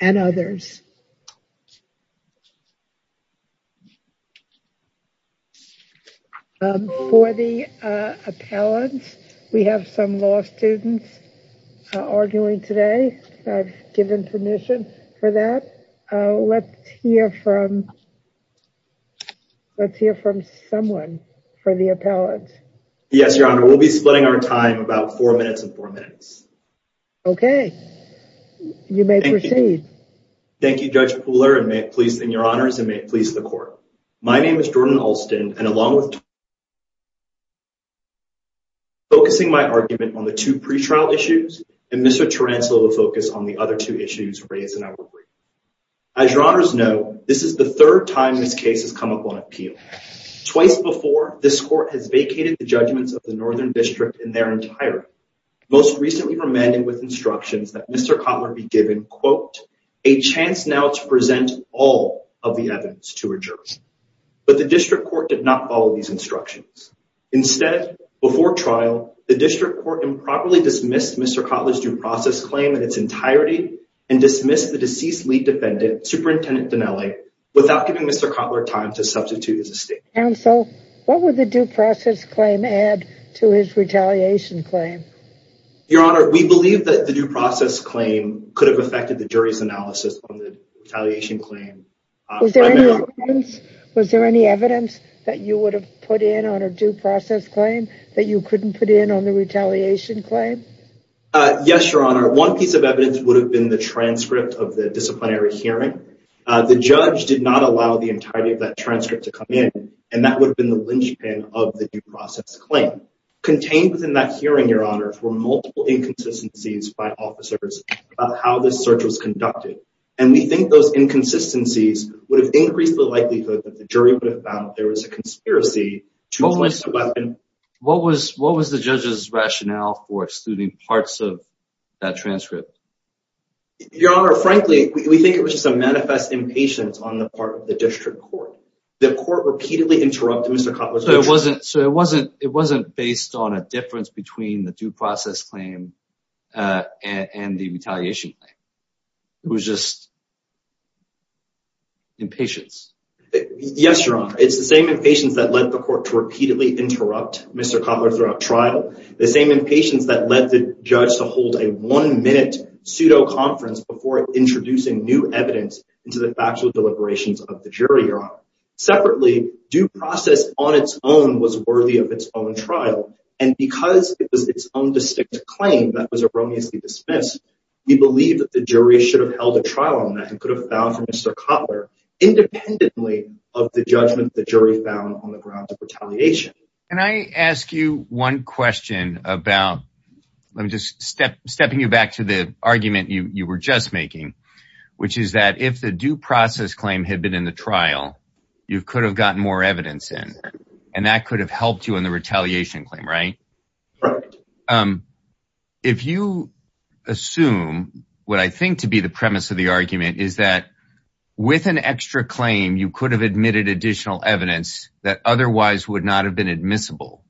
and others. For the appellants, we have some law students arguing today. I've given permission for that. Let's hear from someone for the appellant. Yes, Your Honor, we'll be splitting our time about four minutes and four minutes. Okay, you may proceed. Thank you, Judge Pooler, and your Honors, and may it please the Court. My name is Jordan Alston, and along with and Mr. Tarantula will focus on the other two issues raised in our brief. As your Honors know, this is the third time this case has come up on appeal. Twice before, this Court has vacated the judgments of the Northern District in their entirety, most recently remanding with instructions that Mr. Kotler be given, quote, a chance now to present all of the evidence to a jury. But the District Court did not follow these instructions. Instead, before trial, the District Court improperly dismissed Mr. Kotler's due process claim in its entirety and dismissed the deceased lead defendant, Superintendent Dinelli, without giving Mr. Kotler time to substitute his estate. Counsel, what would the due process claim add to his retaliation claim? Your Honor, we believe that the due process claim could have affected the jury's analysis on the retaliation claim. Was there any evidence that you would have put in on a due process claim that you couldn't put in on the retaliation claim? Yes, Your Honor. One piece of evidence would have been the transcript of the disciplinary hearing. The judge did not allow the entirety of that transcript to come in, and that would have been the linchpin of the due process claim. Contained within that hearing, Your Honor, were multiple inconsistencies by officers about how this search was conducted. And we think those inconsistencies would have increased the likelihood that the jury would have found that there was a conspiracy to place the weapon. What was the judge's rationale for excluding parts of that transcript? Your Honor, frankly, we think it was just a manifest impatience on the part of the District Court. The court repeatedly interrupted Mr. Kotler's... So it wasn't based on a difference between the due process claim and the retaliation claim. It was just impatience. Yes, Your Honor. It's the same impatience that led the court to repeatedly interrupt Mr. Kotler throughout trial. The same impatience that led the judge to hold a one-minute pseudo-conference before introducing new evidence into the factual deliberations of the jury, Your Honor. Separately, due process on its own was worthy of its own trial. And because it was its own distinct claim that was erroneously dismissed, we believe that the jury should have held a trial on that and could have found for Mr. Kotler independently of the judgment the jury found on the grounds of retaliation. Can I ask you one question about... Let me just step... Stepping you back to the argument you were just making, which is that if the due process claim had been in the trial, you could have gotten more evidence in. And that could have helped you in the retaliation claim, right? If you assume what I think to be the premise of the argument is that with an extra claim, you could have admitted additional evidence that otherwise would not have been admissible,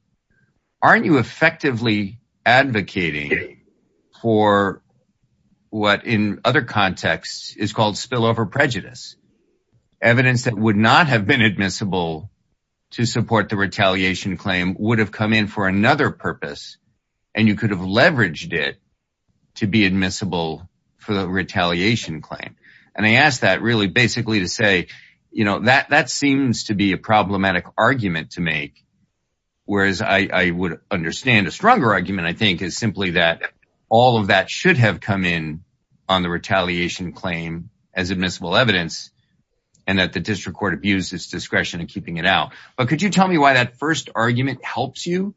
aren't you effectively advocating for what in other contexts is called spillover prejudice? Evidence that would not have been admissible to support the retaliation claim would have come in for another purpose. And you could have leveraged it to be admissible for the retaliation claim. And I asked that really basically to say, that seems to be a problematic argument to make. Whereas I would understand a stronger argument, I think, is simply that all of that should have come in on the retaliation claim as admissible evidence, and that the district court abused its discretion in keeping it out. But could you tell me why that first argument helps you?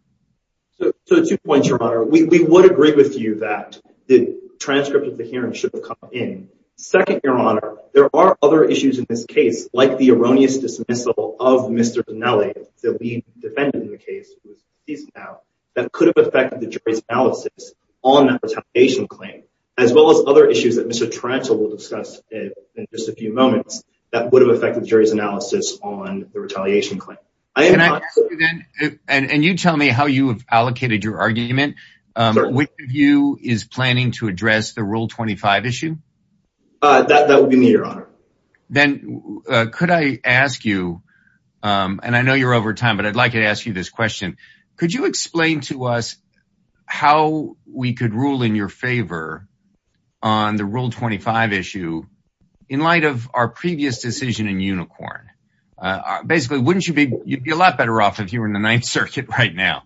So two points, Your Honor. We would agree with you that the transcript of the hearing should have come in. Second, Your Honor, there are other issues in this case, like the erroneous dismissal of Mr. Dinelli, that we defended in the case, that could have affected the jury's analysis on the retaliation claim, as well as other issues that Mr. Taranto will discuss in just a few moments that would have affected the jury's analysis on the retaliation claim. And you tell me how you have allocated your argument. Which of you is planning to address the Rule 25 issue? That would be me, Your Honor. Then could I ask you, and I know you're over time, but I'd like to ask you this question. Could you explain to us how we could rule in your favor on the Rule 25 issue in light of our previous decision in Unicorn? Basically, you'd be a lot better off if you were in the Ninth Circuit right now.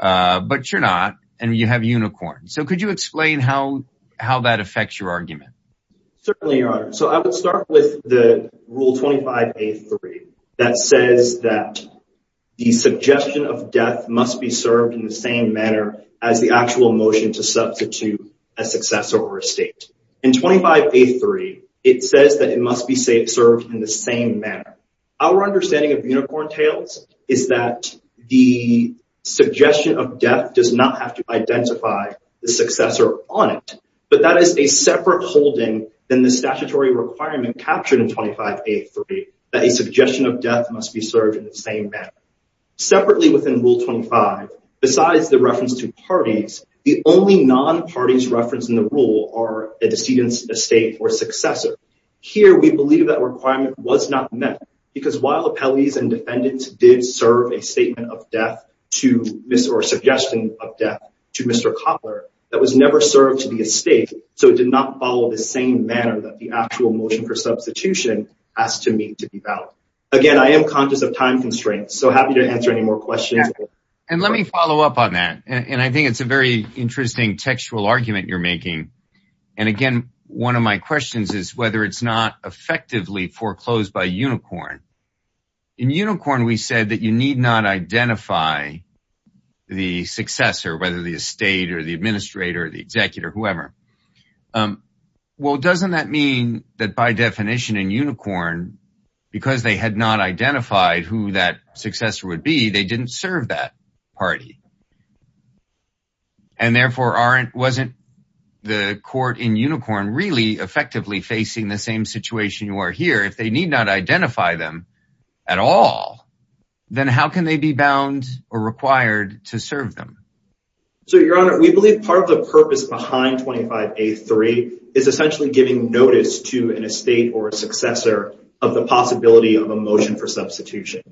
But you're not, and you have Unicorn. So could you explain how that affects your argument? Certainly, Your Honor. So I would start with the Rule 25a.3 that says that the suggestion of death must be served in the same manner as the actual motion to substitute a successor or estate. In 25a.3, it says that it must be served in the same manner. Our understanding of Unicorn Tales is that the suggestion of death does not have to identify the successor on it, but that is a separate holding than the statutory requirement captured in 25a.3 that a suggestion of death must be served in the same manner. Separately within Rule 25, besides the reference to parties, the only non-parties referenced in the rule are a decedent, estate, or successor. Here, we believe that requirement was not met because while appellees and defendants did serve a statement of death to Mr. or suggestion of death to Mr. Coppler, that was never served to the estate, so it did not follow the same manner that the actual motion for substitution asked to meet to be valid. Again, I am conscious of time constraints, so happy to answer any more questions. And let me follow up on that. And I think it's a very interesting textual argument you're making. And again, one of my questions is whether it's not effectively foreclosed by Unicorn. In Unicorn, we said that you need not identify the successor, whether the estate or the administrator or the executor, whoever. Well, doesn't that mean that by definition in Unicorn, because they had not identified who that successor would be, they didn't serve that party? And therefore, wasn't the court in Unicorn really effectively facing the same situation you are here? If they need not identify them at all, then how can they be bound or required to serve them? So, Your Honor, we believe part of the purpose behind 25A3 is essentially giving notice to an estate or a successor of the possibility of a motion for substitution.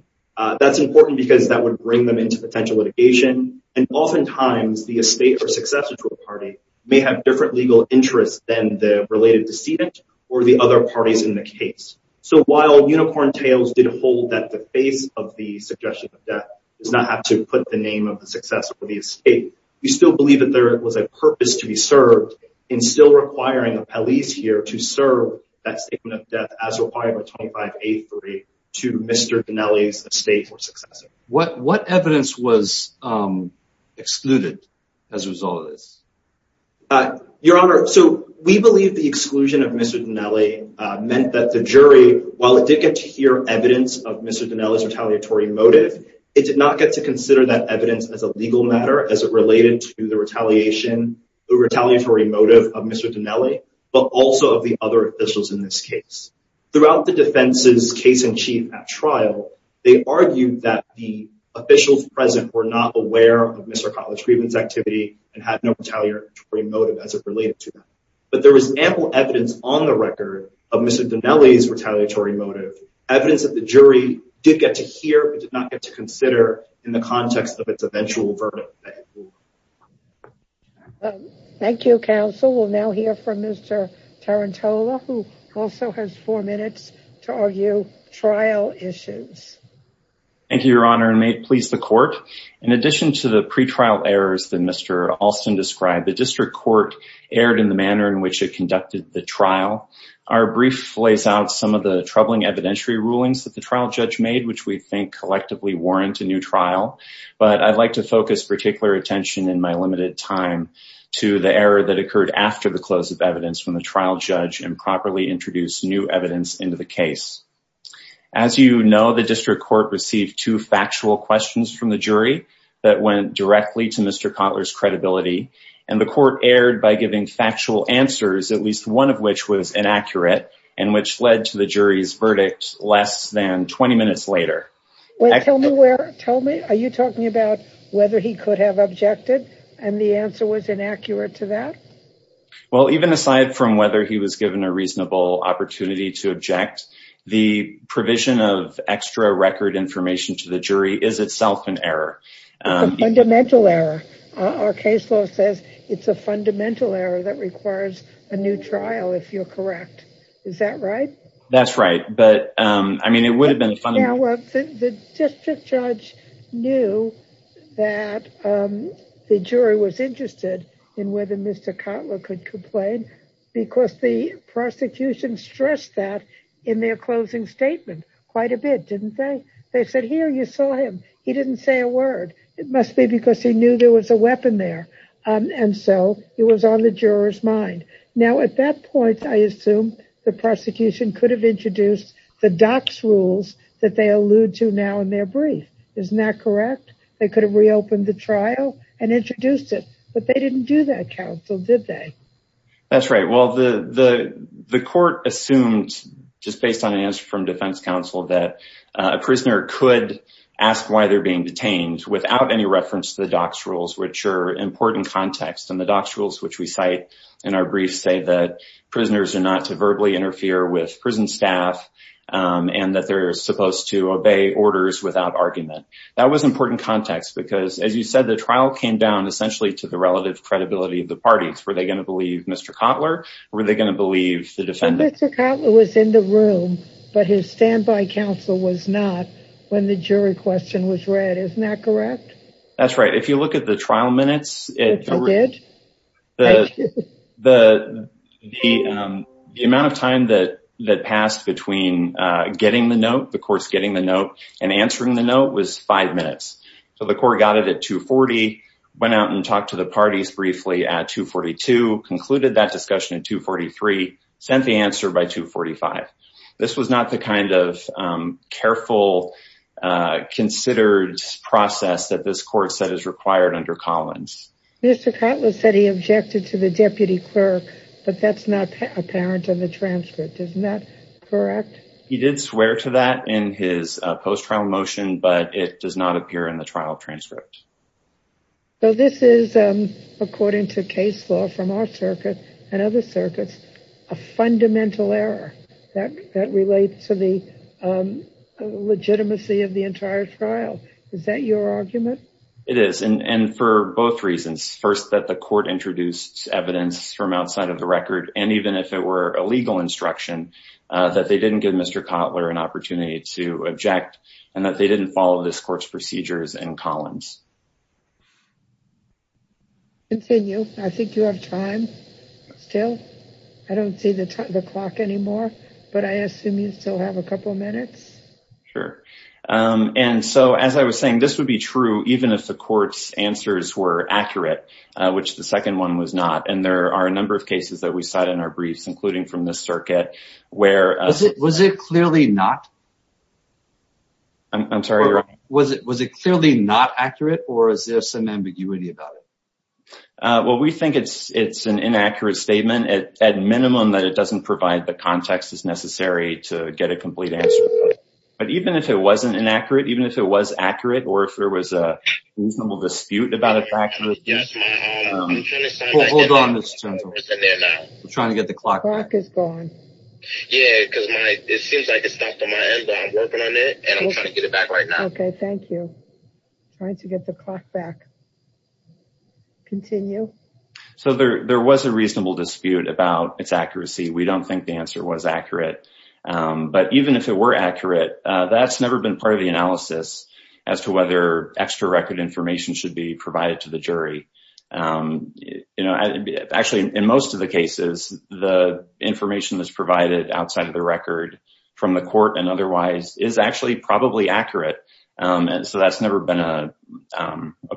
That's important because that would bring them into potential litigation. And oftentimes, the estate or successor to a party may have different legal interests than the related decedent or the other parties in the case. So while Unicorn Tales did hold that the face of the suggestion of death does not have to put the name of the successor of the estate, we still believe that there was a purpose to be served in still requiring the police here to serve that statement of death as required by 25A3 to Mr. Dinelli's estate or successor. What evidence was excluded as a result of this? Your Honor, so we believe the exclusion of Mr. Dinelli meant that the jury, while it did get to hear evidence of Mr. Dinelli's retaliatory motive, it did not get to consider that evidence as a legal matter as it related to the retaliation, the retaliatory motive of Mr. Dinelli, but also of the other officials in this case. Throughout the defense's case in chief at trial, they argued that the officials present were not aware of Mr. Kotler's grievance activity and had no retaliatory motive as it related to that. But there was ample evidence on the record of Mr. Dinelli's retaliatory motive, evidence that the jury did get to hear, but did not get to consider in the context of its eventual verdict. Thank you, counsel. We'll now hear from Mr. Tarantola, who also has four minutes to argue trial issues. Thank you, Your Honor, and may it please the court. In addition to the pretrial errors that Mr. Alston described, the district court erred in the manner in which it conducted the trial. Our brief lays out some of the troubling evidentiary rulings that the trial judge made, which we think collectively warrant a new trial. But I'd like to focus particular attention in my limited time to the error that occurred after the close of evidence from the trial judge and properly introduce new evidence into the case. As you know, the district court received two factual questions from the jury that went directly to Mr. Kotler's credibility. And the court erred by giving factual answers, at least one of which was inaccurate, and which led to the jury's verdict less than 20 minutes later. Are you talking about whether he could have objected and the answer was inaccurate to that? Well, even aside from whether he was given a reasonable opportunity to object, the provision of extra record information to the jury is itself an error. It's a fundamental error. Our case law says it's a fundamental error that requires a new trial, if you're correct. Is that right? That's right. But, I mean, it would have been fundamental. The district judge knew that the jury was interested in whether Mr. Kotler could complain, because the prosecution stressed that in their closing statement quite a bit, didn't they? They said, here, you saw him. He didn't say a word. And so it was on the juror's mind. Now, at that point, I assume the prosecution could have introduced the DOCS rules that they allude to now in their brief. Isn't that correct? They could have reopened the trial and introduced it. But they didn't do that, counsel, did they? That's right. Well, the court assumed, just based on an answer from defense counsel, that a prisoner could ask why they're being detained without any reference to the DOCS rules, which are important context. And the DOCS rules, which we cite in our brief, say that prisoners are not to verbally interfere with prison staff and that they're supposed to obey orders without argument. That was important context, because, as you said, the trial came down essentially to the relative credibility of the parties. Were they going to believe Mr. Kotler? Were they going to believe the defendant? Mr. Kotler was in the room, but his standby counsel was not when the jury question was read. Isn't that correct? That's right. If you look at the trial minutes, the amount of time that passed between getting the note, the court's getting the note, and answering the note was five minutes. So the court got it at 240, went out and talked to the parties briefly at 242, concluded that discussion at 243, sent the answer by 245. This was not the kind of careful, considered process that this court said is required under Collins. Mr. Kotler said he objected to the deputy clerk, but that's not apparent in the transcript. Isn't that correct? He did swear to that in his post-trial motion, but it does not appear in the trial transcript. So this is, according to case law from our circuit and other circuits, a fundamental error that relates to the legitimacy of the entire trial. Is that your argument? It is, and for both reasons. First, that the court introduced evidence from outside of the record, and even if it were a legal instruction, that they didn't give Mr. Kotler an opportunity to object, and that they didn't follow this court's procedures in Collins. Continue. I think you have time still. I don't see the clock anymore, but I assume you still have a couple minutes. Sure. And so, as I was saying, this would be true even if the court's answers were accurate, which the second one was not. And there are a number of cases that we cite in our briefs, including from this circuit, where... Was it clearly not? I'm sorry. Was it clearly not accurate, or is there some ambiguity about it? Well, we think it's an inaccurate statement, at minimum, that it doesn't provide the context that's necessary to get a complete answer. But even if it wasn't inaccurate, even if it was accurate, or if there was a reasonable dispute about a fact of the case... Yes, ma'am. I'm trying to sign that... Hold on, Ms. Gentleman. It's in there now. I'm trying to get the clock back. Clock is gone. Yeah, because my... It seems like it's stopped on my end, but I'm working on it, and I'm trying to get it back right now. Okay, thank you. Trying to get the clock back. Continue. So there was a reasonable dispute about its accuracy. We don't think the answer was accurate. But even if it were accurate, that's never been part of the analysis as to whether extra record information should be provided to the jury. Actually, in most of the cases, the information that's provided outside of the record from the court and otherwise is actually probably accurate. So that's never been a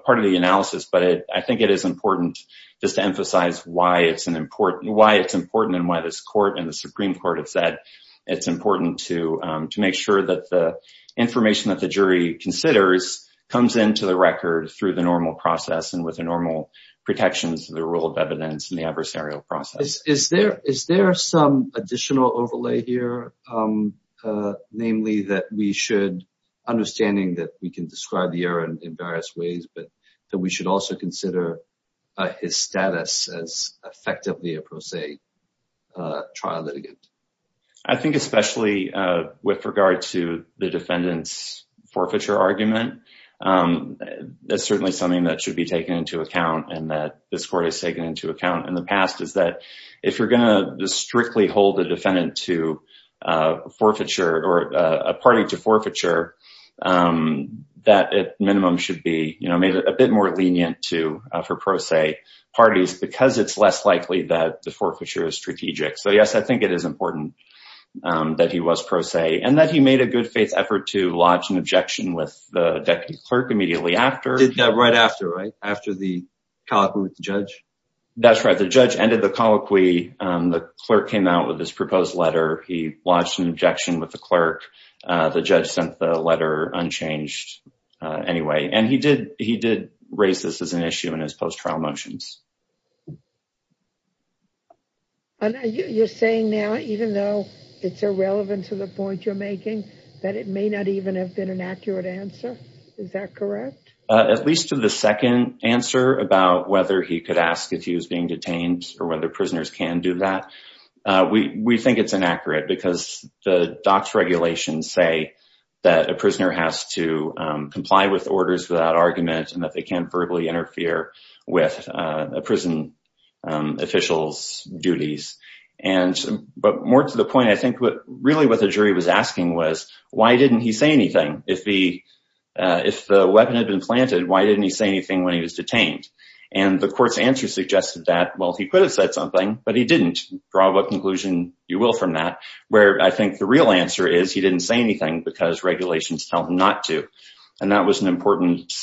part of the analysis. But I think it is important just to emphasize why it's important and why this court and the Supreme Court have said it's important to make sure that the information that the jury considers comes into the record through the normal process and with the normal protections of the rule of evidence and the adversarial process. Is there some additional overlay here? Namely, that we should... Understanding that we can describe the error in various ways, but that we should also consider his status as effectively a pro se trial litigant. I think especially with regard to the defendant's forfeiture argument, that's certainly something that should be taken into account and that this court has taken into account in the past is that if you're gonna strictly hold a defendant to forfeiture or a party to forfeiture, that at minimum should be made a bit more lenient for pro se parties because it's less likely that the forfeiture is strategic. So yes, I think it is important that he was pro se and that he made a good faith effort to lodge an objection with the deputy clerk immediately after. Did that right after, right? After the colloquy with the judge? That's right. The judge ended the colloquy. The clerk came out with this proposed letter. He lodged an objection with the clerk. The judge sent the letter unchanged anyway. And he did raise this as an issue in his post-trial motions. And you're saying now, even though it's irrelevant to the point you're making, that it may not even have been an accurate answer. Is that correct? At least to the second answer about whether he could ask if he was being detained or whether prisoners can do that. We think it's inaccurate because the docs regulations say that a prisoner has to comply with orders without argument and that they can't verbally interfere with a prison official's duties. But more to the point, I think really what the jury was asking was, why didn't he say anything? If the weapon had been planted, why didn't he say anything when he was detained? And the court's answer suggested that, well, he could have said something, but he didn't. Draw what conclusion you will from that. Where I think the real answer is, he didn't say anything because regulations tell him not to. And that was an important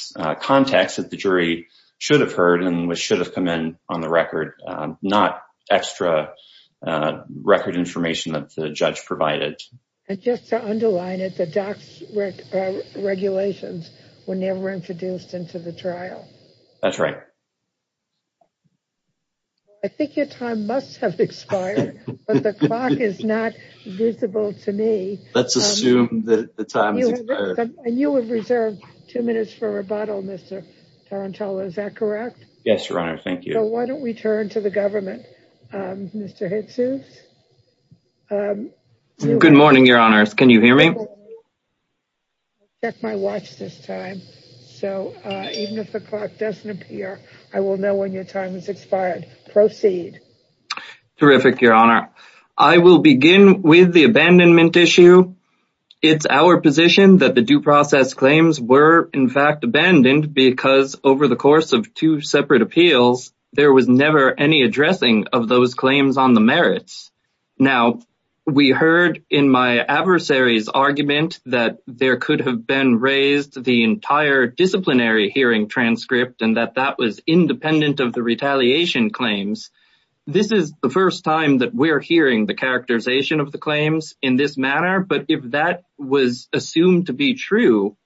context that the jury should have heard and which should have come in on the record, not extra record information that the judge provided. Just to underline it, the docs regulations were never introduced into the trial. That's right. I think your time must have expired, but the clock is not visible to me. Let's assume that the time has expired. And you have reserved two minutes for rebuttal, Mr. Tarantella. Is that correct? Yes, your honor. Thank you. Why don't we turn to the government, Mr. Hitzos? Good morning, your honors. Can you hear me? Check my watch this time. So even if the clock doesn't appear, I will know when your time has expired. Proceed. Terrific, your honor. I will begin with the abandonment issue. It's our position that the due process claims were in fact abandoned because over the course of two separate appeals, there was never any addressing of those claims on the merits. Now, we heard in my adversary's argument that there could have been raised the entire disciplinary hearing transcript and that that was independent of the retaliation claims. This is the first time that we're hearing the characterization of the claims in this manner, but if that was assumed to be true,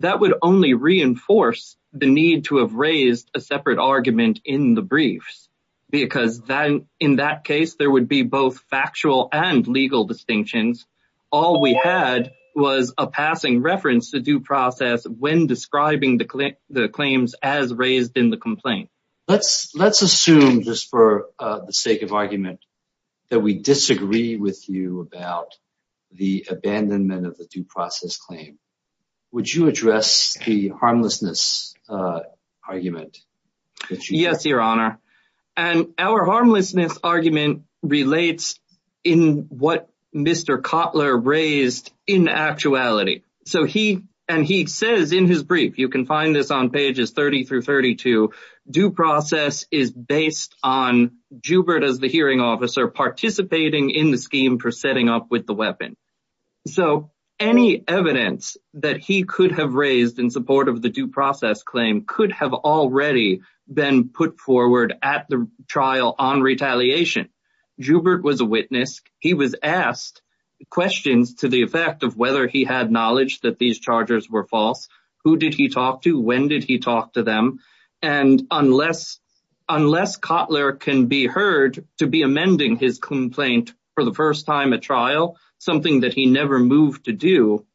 that would only reinforce the need to have raised a separate argument in the briefs because then in that case, there would be both factual and legal distinctions. All we had was a passing reference to due process when describing the claims as raised in the complaint. Let's assume just for the sake of argument that we disagree with you about the abandonment of the due process claim. Would you address the harmlessness argument? Yes, your honor. And our harmlessness argument relates in what Mr. Kotler raised in actuality. So he, and he says in his brief, you can find this on pages 30 through 32, due process is based on Jubert as the hearing officer participating in the scheme for setting up with the weapon. So any evidence that he could have raised in support of the due process claim could have already been put forward at the trial on retaliation. Jubert was a witness. He was asked questions to the effect of whether he had knowledge that these charges were false. Who did he talk to? When did he talk to them? And unless Kotler can be heard to be amending his complaint for the first time at trial, something that he never moved to do,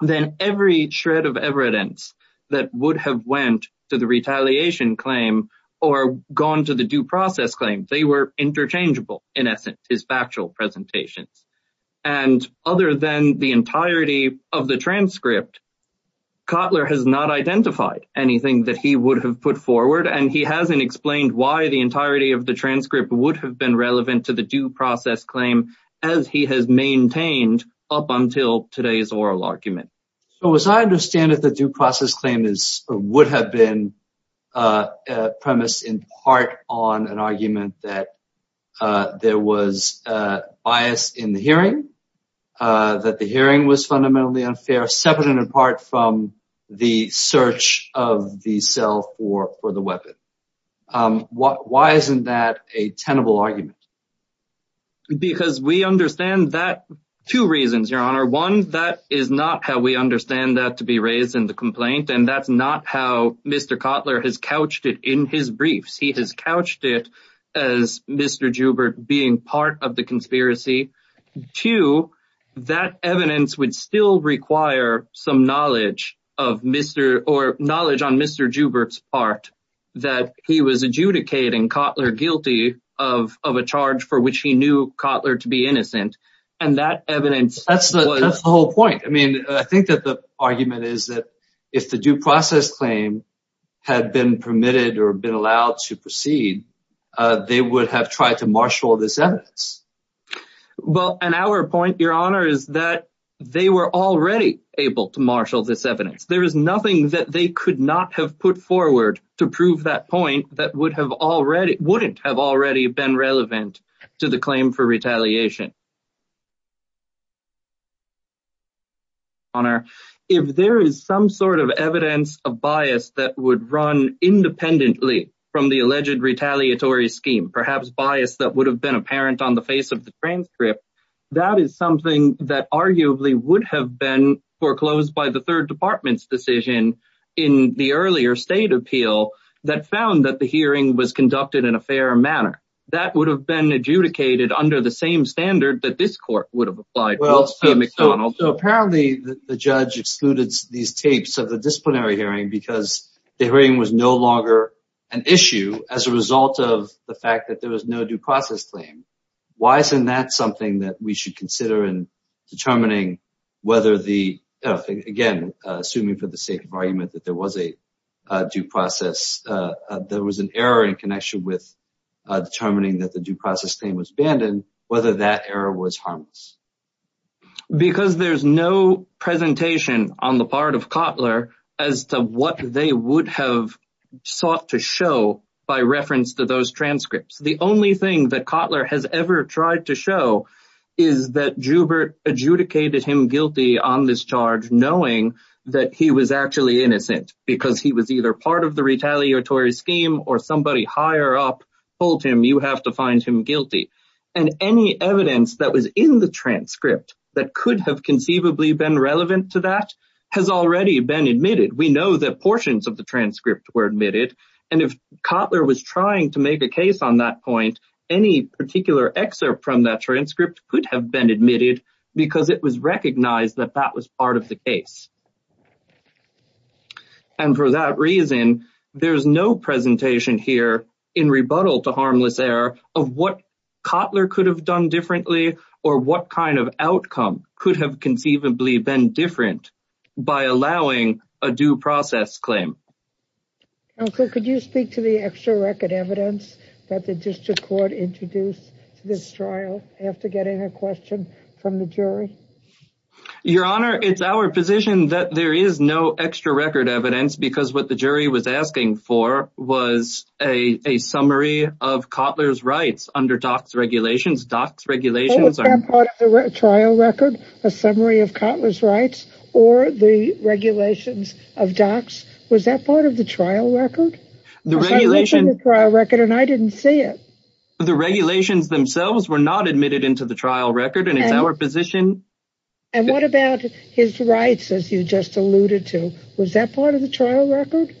then every shred of evidence that would have went to the retaliation claim or gone to the due process claim, they were interchangeable in essence, his factual presentations. And other than the entirety of the transcript, Kotler has not identified anything that he would have put forward, and he hasn't explained why the entirety of the transcript would have been relevant to the due process claim as he has maintained up until today's oral argument. So as I understand it, the due process claim would have been a premise in part on an argument that there was a bias in the hearing, that the hearing was fundamentally unfair, separate and apart from the search of the cell for the weapon. Why isn't that a tenable argument? Because we understand that, two reasons, Your Honor. One, that is not how we understand that to be raised in the complaint, and that's not how Mr. Kotler has couched it in his briefs. He has couched it as Mr. Jubert being part of the conspiracy. Two, that evidence would still require some knowledge of Mr. or knowledge on Mr. Jubert's part that he was adjudicating Kotler guilty of a charge for which he knew Kotler to be innocent. And that evidence- That's the whole point. I mean, I think that the argument is that if the due process claim had been permitted or been allowed to proceed, they would have tried to marshal this evidence. Well, and our point, Your Honor, is that they were already able to marshal this evidence. There is nothing that they could not have put forward to prove that point that wouldn't have already been relevant to the claim for retaliation. Your Honor, if there is some sort of evidence of bias that would run independently from the alleged retaliatory scheme, perhaps bias that would have been apparent on the face of the transcript, that is something that arguably would have been foreclosed by the third department's decision in the earlier state appeal that found that the hearing was conducted in a fair manner. That would have been adjudicated under the same standard that this court would have applied- Well, so apparently the judge excluded these tapes of the disciplinary hearing because the hearing was no longer an issue as a result of the fact that there was no due process claim. Why isn't that something that we should consider in determining whether the, again, assuming for the sake of argument, that there was a due process, there was an error in connection with determining that the due process claim was abandoned, whether that error was harmless? Because there's no presentation on the part of Kotler as to what they would have sought to show by reference to those transcripts. The only thing that Kotler has ever tried to show is that Jubert adjudicated him guilty on this charge knowing that he was actually innocent because he was either part of the retaliatory scheme or somebody higher up told him, you have to find him guilty. And any evidence that was in the transcript that could have conceivably been relevant to that has already been admitted. We know that portions of the transcript were admitted. And if Kotler was trying to make a case on that point, any particular excerpt from that transcript could have been admitted because it was recognized that that was part of the case. And for that reason, there's no presentation here in rebuttal to harmless error of what Kotler could have done differently or what kind of outcome could have conceivably been different by allowing a due process claim. Counsel, could you speak to the extra record evidence that the district court introduced to this trial after getting a question from the jury? Your Honor, it's our position that there is no extra record evidence because what the jury was asking for was a summary of Kotler's rights under DOCS regulations. DOCS regulations are- Was that part of the trial record, a summary of Kotler's rights or the regulations of DOCS? Was that part of the trial record? The regulation- I looked at the trial record and I didn't see it. The regulations themselves were not admitted into the trial record and it's our position- And what about his rights as you just alluded to? Was that part of the trial record?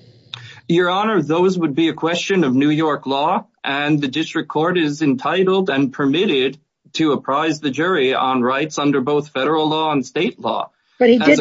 Your Honor, those would be a question of New York law and the district court is entitled and permitted to apprise the jury on rights under both federal law and state law. But he did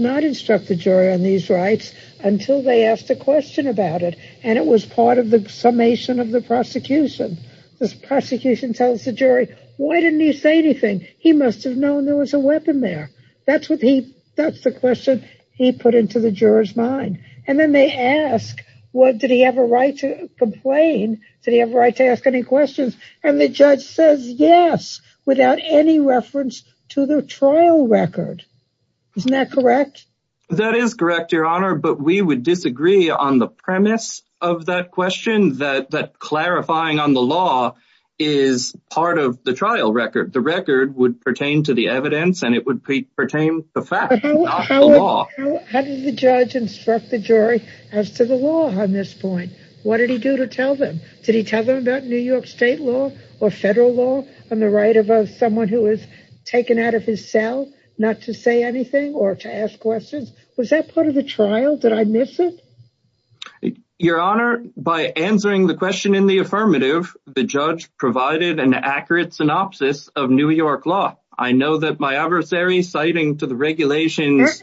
not instruct the jury on these rights until they asked a question about it and it was part of the summation of the prosecution. This prosecution tells the jury, why didn't he say anything? He must have known there was a weapon there. That's the question he put into the juror's mind. And then they ask, did he have a right to complain? Did he have a right to ask any questions? And the judge says yes without any reference to the trial record. Isn't that correct? That is correct, Your Honor. But we would disagree on the premise of that question that clarifying on the law is part of the trial record. The record would pertain to the evidence and it would pertain to the fact, not the law. How did the judge instruct the jury as to the law on this point? What did he do to tell them? Did he tell them about New York state law or federal law on the right of someone who was taken out of his cell not to say anything or to ask questions? Was that part of the trial? Did I miss it? Your Honor, by answering the question in the affirmative, the judge provided an accurate synopsis of New York law. I know that my adversary citing to the regulations-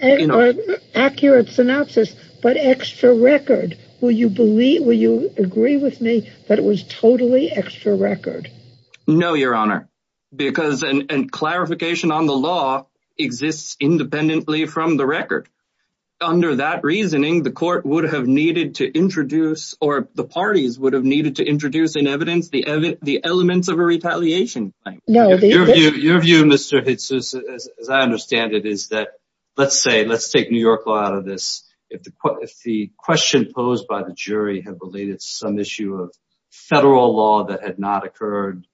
Accurate synopsis, but extra record. Will you agree with me that it was totally extra record? No, Your Honor, because clarification on the law exists independently from the record. Under that reasoning, the court would have needed to introduce or the parties would have needed to introduce in evidence the elements of a retaliation. Your view, Mr. Jesus, as I understand it, is that let's say, let's take New York law out of this. If the question posed by the jury had related to some issue of federal law that had not occurred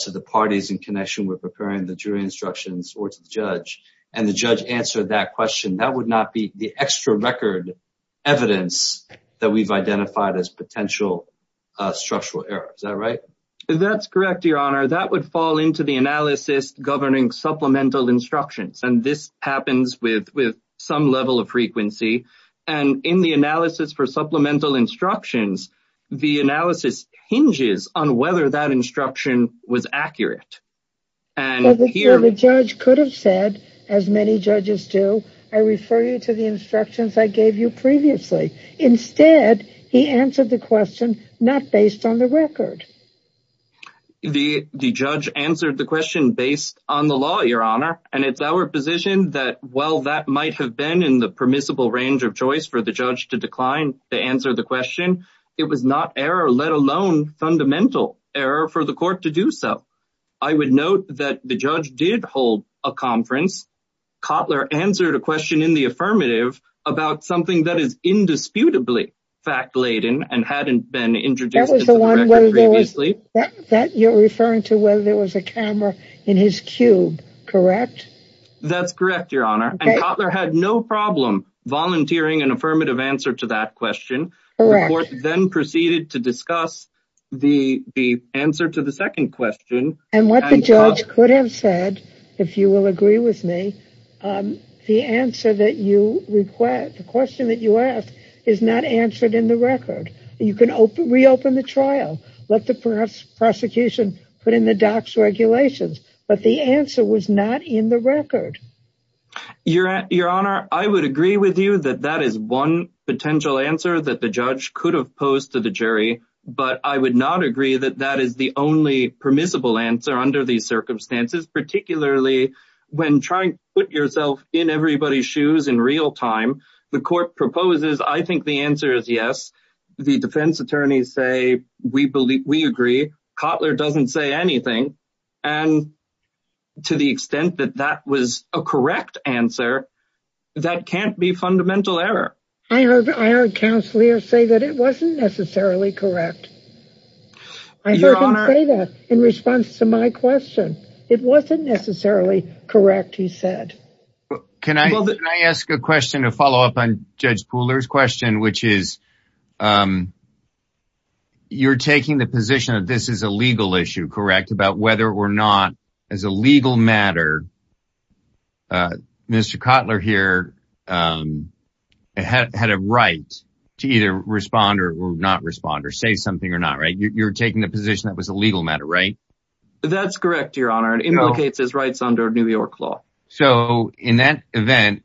to the parties in connection with preparing the jury instructions or to the judge, and the judge answered that question, that would not be the extra record evidence that we've identified as potential structural error. Is that right? That's correct, Your Honor. That would fall into the analysis governing supplemental instructions. And this happens with some level of frequency. And in the analysis for supplemental instructions, the analysis hinges on whether that instruction was accurate. The judge could have said, as many judges do, I refer you to the instructions I gave you previously. Instead, he answered the question, not based on the record. The judge answered the question based on the law, Your Honor. And it's our position that while that might have been in the permissible range of choice for the judge to decline to answer the question, it was not error, let alone fundamental error for the court to do so. I would note that the judge did hold a conference. Kotler answered a question in the affirmative about something that is indisputably fact-laden and hadn't been introduced previously. That you're referring to, whether there was a camera in his cube, correct? That's correct, Your Honor. And Kotler had no problem volunteering an affirmative answer to that question. The court then proceeded to discuss the answer to the second question. And what the judge could have said, if you will agree with me, the answer that you request, the question that you ask is not answered in the record. You can reopen the trial, let the prosecution put in the docs regulations, but the answer was not in the record. Your Honor, I would agree with you that that is one potential answer that the judge could have posed to the jury, but I would not agree that that is the only permissible answer under these circumstances, particularly when trying to put yourself in everybody's shoes in real time. The court proposes, I think the answer is yes. The defense attorneys say, we agree. Kotler doesn't say anything. And to the extent that that was a correct answer, that can't be fundamental error. I heard counselor say that it wasn't necessarily correct. I heard him say that in response to my question. It wasn't necessarily correct, he said. Can I ask a question to follow up on Judge Pooler's question, which is you're taking the position that this is a legal issue, correct? Whether or not as a legal matter, Mr. Kotler here had a right to either respond or not respond or say something or not, right? You're taking the position that was a legal matter, right? That's correct, Your Honor. It implicates his rights under New York law. So in that event,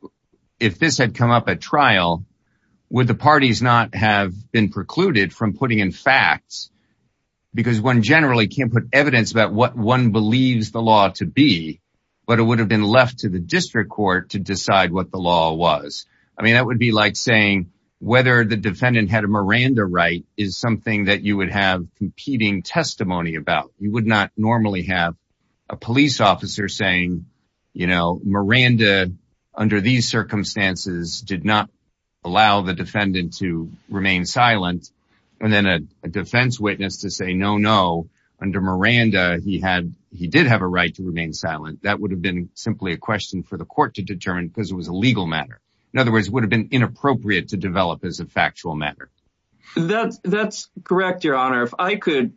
if this had come up at trial, would the parties not have been precluded from putting in facts? Because one generally can't put evidence about what one believes the law to be, but it would have been left to the district court to decide what the law was. I mean, that would be like saying whether the defendant had a Miranda right is something that you would have competing testimony about. You would not normally have a police officer saying, you know, Miranda under these circumstances did not allow the defendant to remain silent. And then a defense witness to say, under Miranda, he did have a right to remain silent. That would have been simply a question for the court to determine because it was a legal matter. In other words, it would have been inappropriate to develop as a factual matter. That's correct, Your Honor. If I could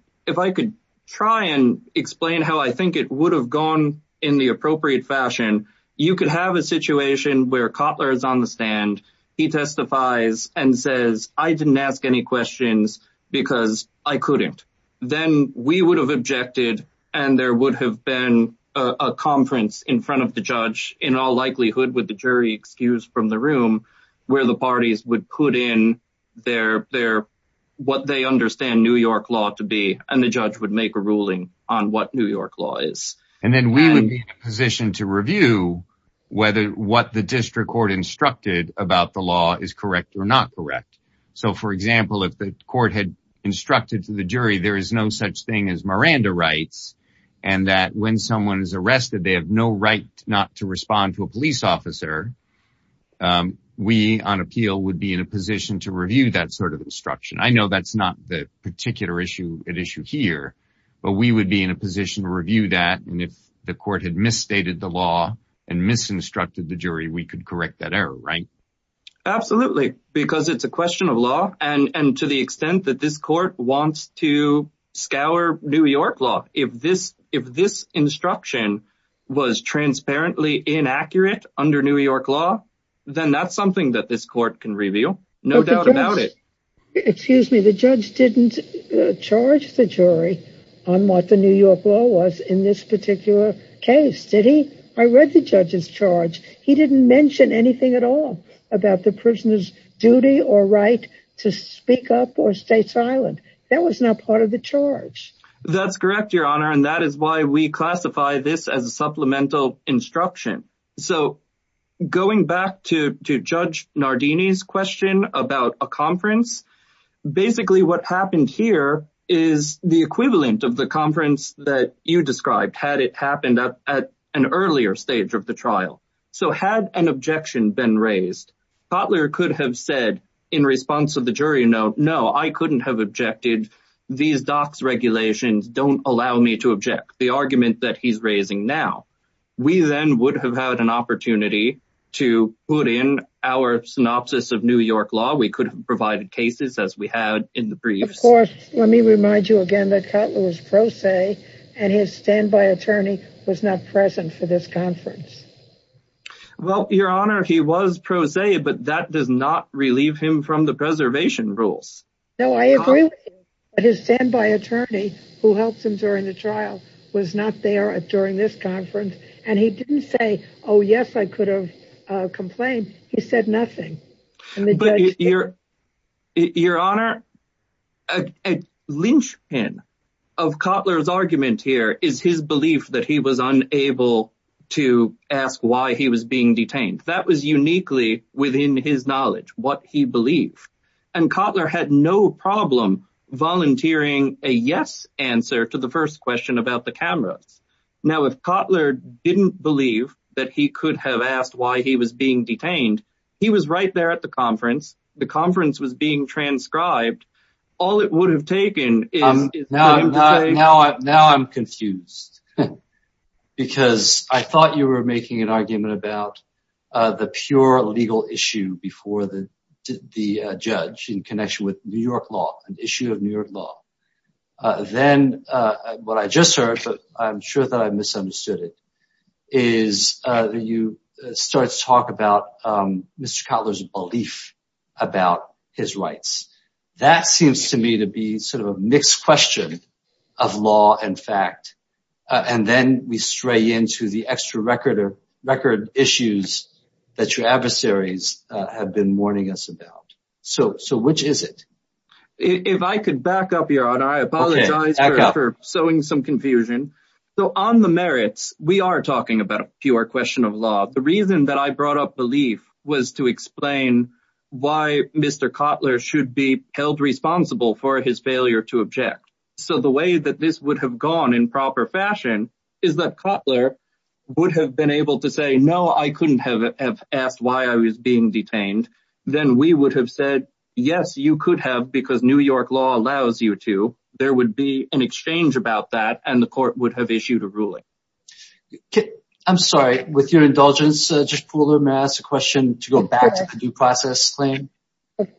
try and explain how I think it would have gone in the appropriate fashion, you could have a situation where Kotler is on the stand. He testifies and says, I didn't ask any questions because I couldn't. Then we would have objected and there would have been a conference in front of the judge in all likelihood with the jury excused from the room where the parties would put in what they understand New York law to be and the judge would make a ruling on what New York law is. And then we would be in a position to review whether what the district court instructed about the law is correct or not correct. So for example, if the court had instructed to the jury, there is no such thing as Miranda rights. And that when someone is arrested, they have no right not to respond to a police officer. We on appeal would be in a position to review that sort of instruction. I know that's not the particular issue at issue here, but we would be in a position to review that. And if the court had misstated the law and misinstructed the jury, we could correct that error, right? Absolutely, because it's a question of law. And to the extent that this court wants to scour New York law, if this instruction was transparently inaccurate under New York law, then that's something that this court can reveal. No doubt about it. Excuse me, the judge didn't charge the jury on what the New York law was in this particular case. Did he? I read the judge's charge. He didn't mention anything at all about the prisoner's duty or right to speak up or stay silent. That was not part of the charge. That's correct, Your Honor. And that is why we classify this as a supplemental instruction. So going back to Judge Nardini's question about a conference, basically what happened here is the equivalent of the conference that you described, had it happened at an earlier stage of the trial. So had an objection been raised, Cutler could have said in response to the jury note, no, I couldn't have objected. These docs regulations don't allow me to object the argument that he's raising now. We then would have had an opportunity to put in our synopsis of New York law. We could have provided cases as we had in the briefs. Of course, let me remind you again that Cutler was pro se and his standby attorney was not present for this conference. Well, Your Honor, he was pro se, but that does not relieve him from the preservation rules. No, I agree with you, but his standby attorney who helps him during the trial was not there during this conference. And he didn't say, oh, yes, I could have complained. He said nothing. But Your Honor, a linchpin of Cutler's argument here is his belief that he was unable to ask why he was being detained. That was uniquely within his knowledge, what he believed. And Cutler had no problem volunteering a yes answer to the first question about the cameras. Now, if Cutler didn't believe that he could have asked why he was being detained, he was right there at the conference. The conference was being transcribed. All it would have taken. Now I'm confused because I thought you were making an argument about the pure legal issue before the judge in connection with New York law, an issue of New York law. Then what I just heard, but I'm sure that I misunderstood it, is that you start to talk about Mr. Cutler's belief about his rights. That seems to me to be sort of a mixed question of law and fact. And then we stray into the extra record issues that your adversaries have been warning us about. So which is it? If I could back up your honor, I apologize for sowing some confusion. So on the merits, we are talking about a pure question of law. The reason that I brought up belief was to explain why Mr. Cutler should be held responsible for his failure to object. So the way that this would have gone in proper fashion is that Cutler would have been able to say, no, I couldn't have asked why I was being detained. Then we would have said, yes, you could have because New York law allows you to. There would be an exchange about that and the court would have issued a ruling. I'm sorry, with your indulgence, Judge Pooler, may I ask a question to go back to the due process claim?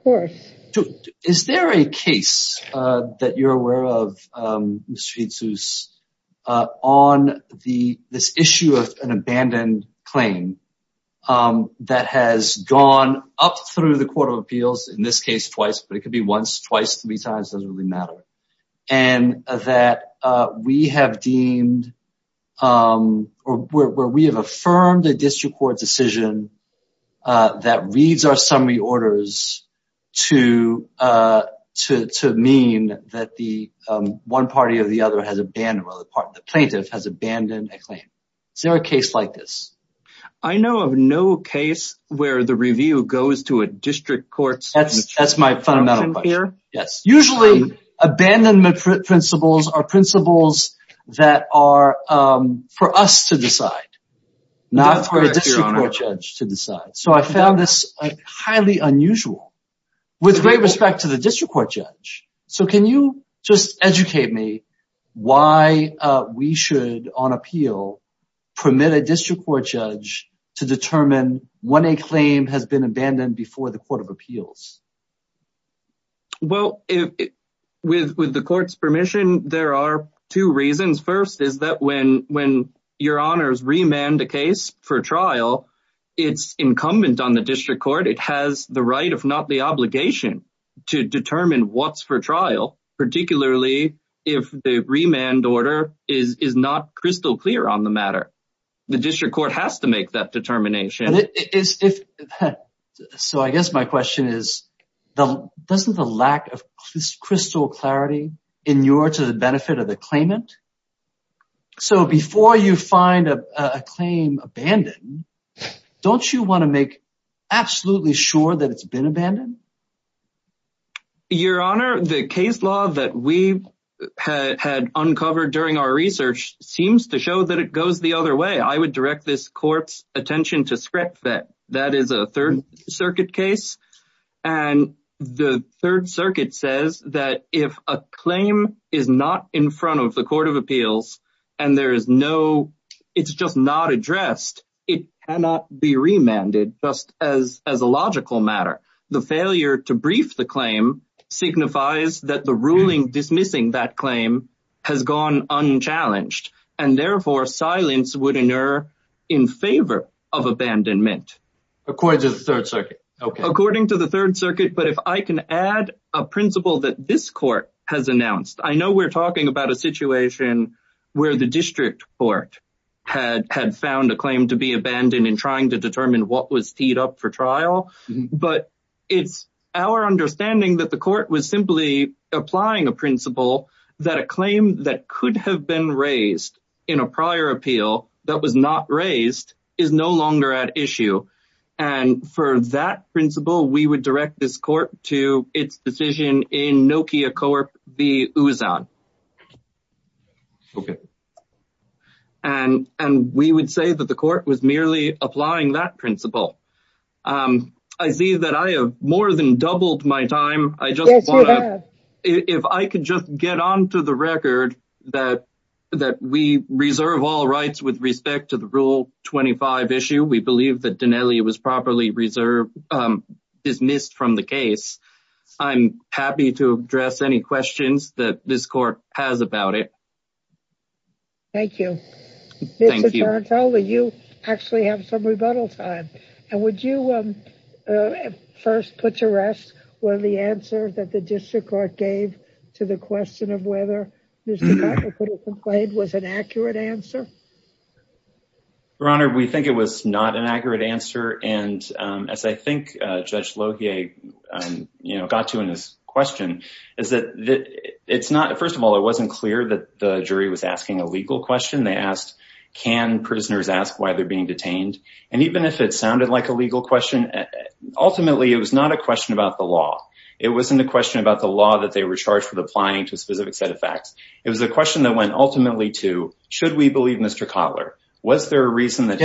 Is there a case that you're aware of, Mr. Edsous, on this issue of an abandoned claim that has gone up through the court of appeals, in this case twice, but it could be once, twice, three times, doesn't really matter. And that we have deemed or where we have affirmed a district court decision that reads our summary orders to mean that the one party of the other has abandoned, or the plaintiff has abandoned a claim. Is there a case like this? I know of no case where the review goes to a district court. That's my fundamental question, yes. Usually abandonment principles not for a district court judge to decide. So I found this highly unusual with great respect to the district court judge. So can you just educate me why we should, on appeal, permit a district court judge to determine when a claim has been abandoned before the court of appeals? Well, with the court's permission, there are two reasons. First is that when your honors remand a case for trial, it's incumbent on the district court. It has the right, if not the obligation, to determine what's for trial, particularly if the remand order is not crystal clear on the matter. The district court has to make that determination. So I guess my question is, doesn't the lack of crystal clarity inure to the benefit of the claimant? So before you find a claim abandoned, don't you want to make absolutely sure that it's been abandoned? Your honor, the case law that we had uncovered during our research seems to show that it goes the other way. I would direct this court's attention to Scrap Vet. That is a third circuit case. And the third circuit says that if a claim is not in front of the court of appeals and there is no, it's just not addressed, it cannot be remanded just as a logical matter. The failure to brief the claim signifies that the ruling dismissing that claim has gone unchallenged. And therefore silence would inure in favor of abandonment. According to the third circuit. According to the third circuit. But if I can add a principle that this court has announced, I know we're talking about a situation where the district court had found a claim to be abandoned in trying to determine what was teed up for trial. But it's our understanding that the court was simply applying a principle that a claim that could have been raised in a prior appeal that was not raised is no longer at issue. And for that principle, we would direct this court to its decision in Nokia Corp. The Ouzan. And and we would say that the court was merely applying that principle. I see that I have more than doubled my time. I just want to if I could just get on to the record that that we reserve all rights with respect to the rule 25 issue. We believe that Dinelli dismissed from the case. I'm happy to address any questions that this court has raised. About it. Thank you. Thank you. Tell me you actually have some rebuttal time. And would you first put to rest one of the answers that the district court gave to the question of whether this complaint was an accurate answer? Your Honor, we think it was not an accurate answer. And as I think Judge Logie got to in this question is that it's not. First of all, it wasn't clear that the jury was asking a legal question they asked. Can prisoners ask why they're being detained? And even if it sounded like a legal question, ultimately, it was not a question about the law. It wasn't a question about the law that they were charged with applying to a specific set of facts. It was a question that went ultimately to should we believe Mr. Kotler? Was there a reason that?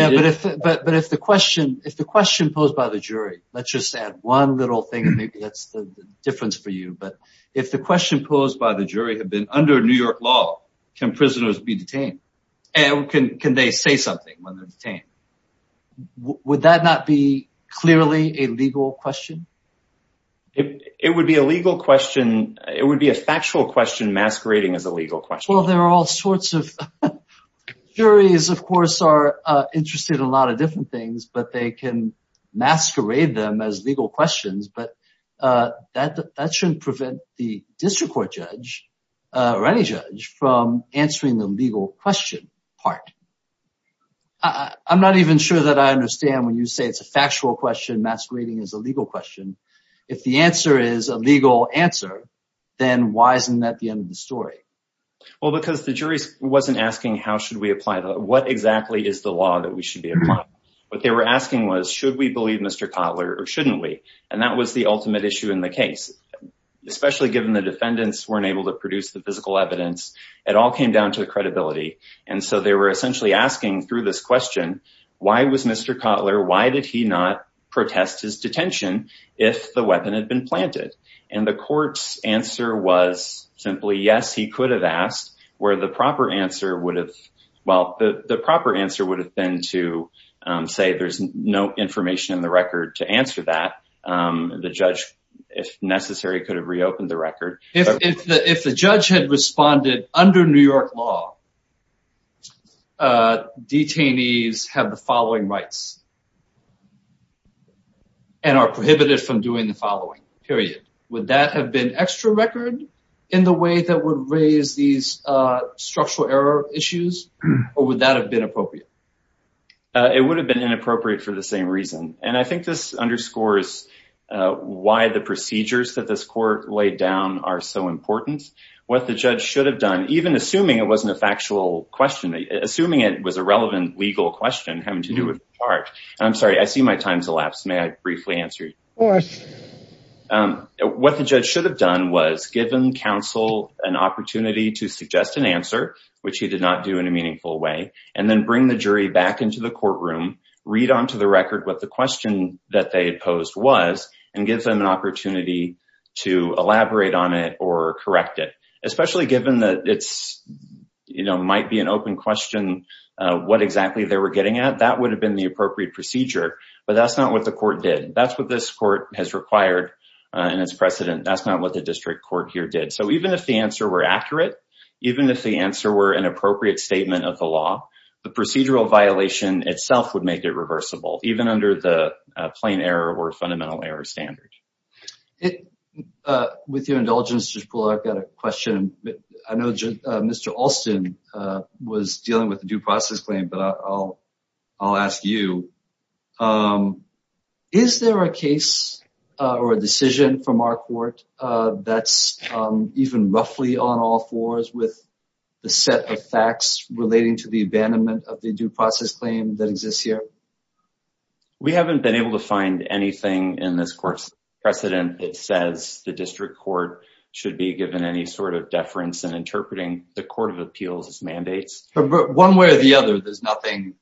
But if the question if the question posed by the jury, let's just add one little thing. And maybe that's the difference for you. But if the question posed by the jury had been under New York law, can prisoners be detained? And can they say something when they're detained? Would that not be clearly a legal question? It would be a legal question. It would be a factual question masquerading as a legal question. Well, there are all sorts of juries, of course, are interested in a lot of different things, but they can masquerade them as legal questions. But that shouldn't prevent the district court judge or any judge from answering the legal question part. I'm not even sure that I understand when you say it's a factual question, masquerading as a legal question. If the answer is a legal answer, then why isn't that the end of the story? Well, because the jury wasn't asking how should we apply? What exactly is the law that we should be applying? What they were asking was, should we believe Mr. Kotler or shouldn't we? And that was the ultimate issue in the case, especially given the defendants weren't able to produce the physical evidence. It all came down to the credibility. And so they were essentially asking through this question, why was Mr. Kotler? Why did he not protest his detention if the weapon had been planted? And the court's answer was simply, yes, he could have asked where the proper answer would have, well, the proper answer would have been to say there's no information in the record to answer that. The judge, if necessary, could have reopened the record. If the judge had responded under New York law, detainees have the following rights and are prohibited from doing the following, period. Would that have been extra record in the way that would raise these structural error issues? Or would that have been appropriate? It would have been inappropriate for the same reason. And I think this underscores why the procedures that this court laid down are so important. What the judge should have done, even assuming it wasn't a factual question, assuming it was a relevant legal question having to do with the charge. I'm sorry, I see my time's elapsed. May I briefly answer? What the judge should have done was given counsel an opportunity to suggest an answer, which he did not do in a meaningful way, and then bring the jury back into the courtroom, read onto the record what the question that they had posed was, and give them an opportunity to elaborate on it or correct it. Especially given that it's, you know, might be an open question what exactly they were getting at, that would have been the appropriate procedure. But that's not what the court did. That's what this court has required and its precedent. That's not what the district court here did. So even if the answer were accurate, even if the answer were an appropriate statement of the law, the procedural violation itself would make it reversible. Even under the plain error or fundamental error standard. With your indulgence, Judge Poole, I've got a question. I know Mr. Alston was dealing with the due process claim, but I'll ask you, is there a case or a decision from our court that's even roughly on all fours with the set of facts relating to the abandonment of the due process claim that exists here? We haven't been able to find anything in this court's precedent that says the district court should be given any sort of deference in interpreting the court of appeals as mandates. One way or the other, there's nothing.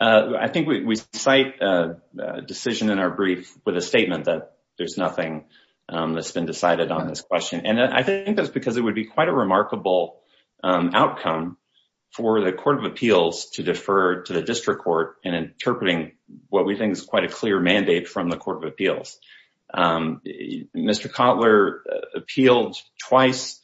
I think we cite a decision in our brief with a statement that there's nothing that's been decided on this question. And I think that's because it would be quite a remarkable outcome for the court of appeals to defer to the district court in interpreting what we think is quite a clear mandate from the court of appeals. Mr. Kotler appealed twice,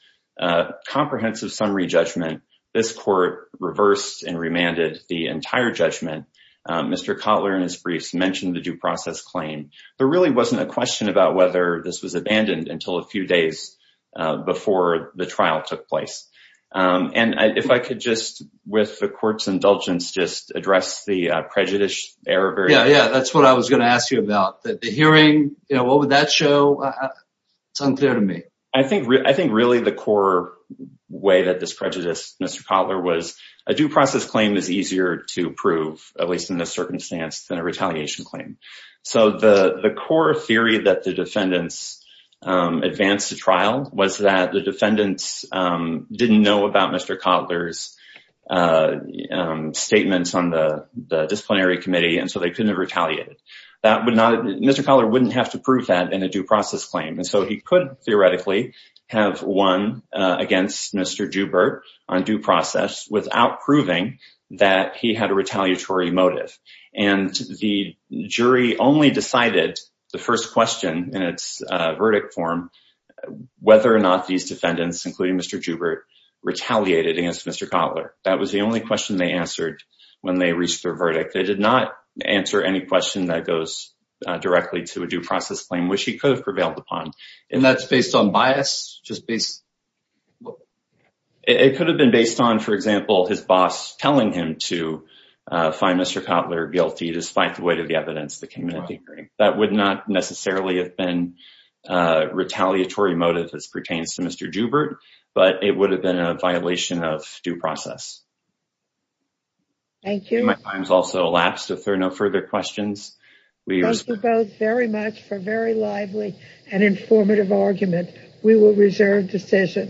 comprehensive summary judgment. This court reversed and remanded the entire judgment. Mr. Kotler, in his briefs, mentioned the due process claim. There really wasn't a question about whether this was abandoned until a few days before the trial took place. And if I could just, with the court's indulgence, just address the prejudice error. Yeah, that's what I was going to ask you about. The hearing, what would that show? It's unclear to me. I think really the core way that this prejudiced Mr. Kotler was a due process claim is easier to prove, at least in this circumstance, than a retaliation claim. So the core theory that the defendants advanced the trial was that the defendants didn't know about Mr. Kotler's statements on the disciplinary committee, and so they couldn't have retaliated. That would not, Mr. Kotler wouldn't have to prove that in a due process claim. And so he could theoretically have won against Mr. Joubert on due process without proving that he had a retaliatory motive. And the jury only decided the first question in its verdict form, whether or not these defendants, including Mr. Joubert, retaliated against Mr. Kotler. That was the only question they answered when they reached their verdict. They did not answer any question that goes directly to a due process claim, which he could have prevailed upon. And that's based on bias? It could have been based on, for example, his boss telling him to find Mr. Kotler guilty, despite the weight of the evidence that came in at the hearing. That would not necessarily have been a retaliatory motive as pertains to Mr. Joubert, but it would have been a violation of due process. Thank you. My time has also elapsed. If there are no further questions, we will- Thank you both very much for a very lively and informative argument. We will reserve decision.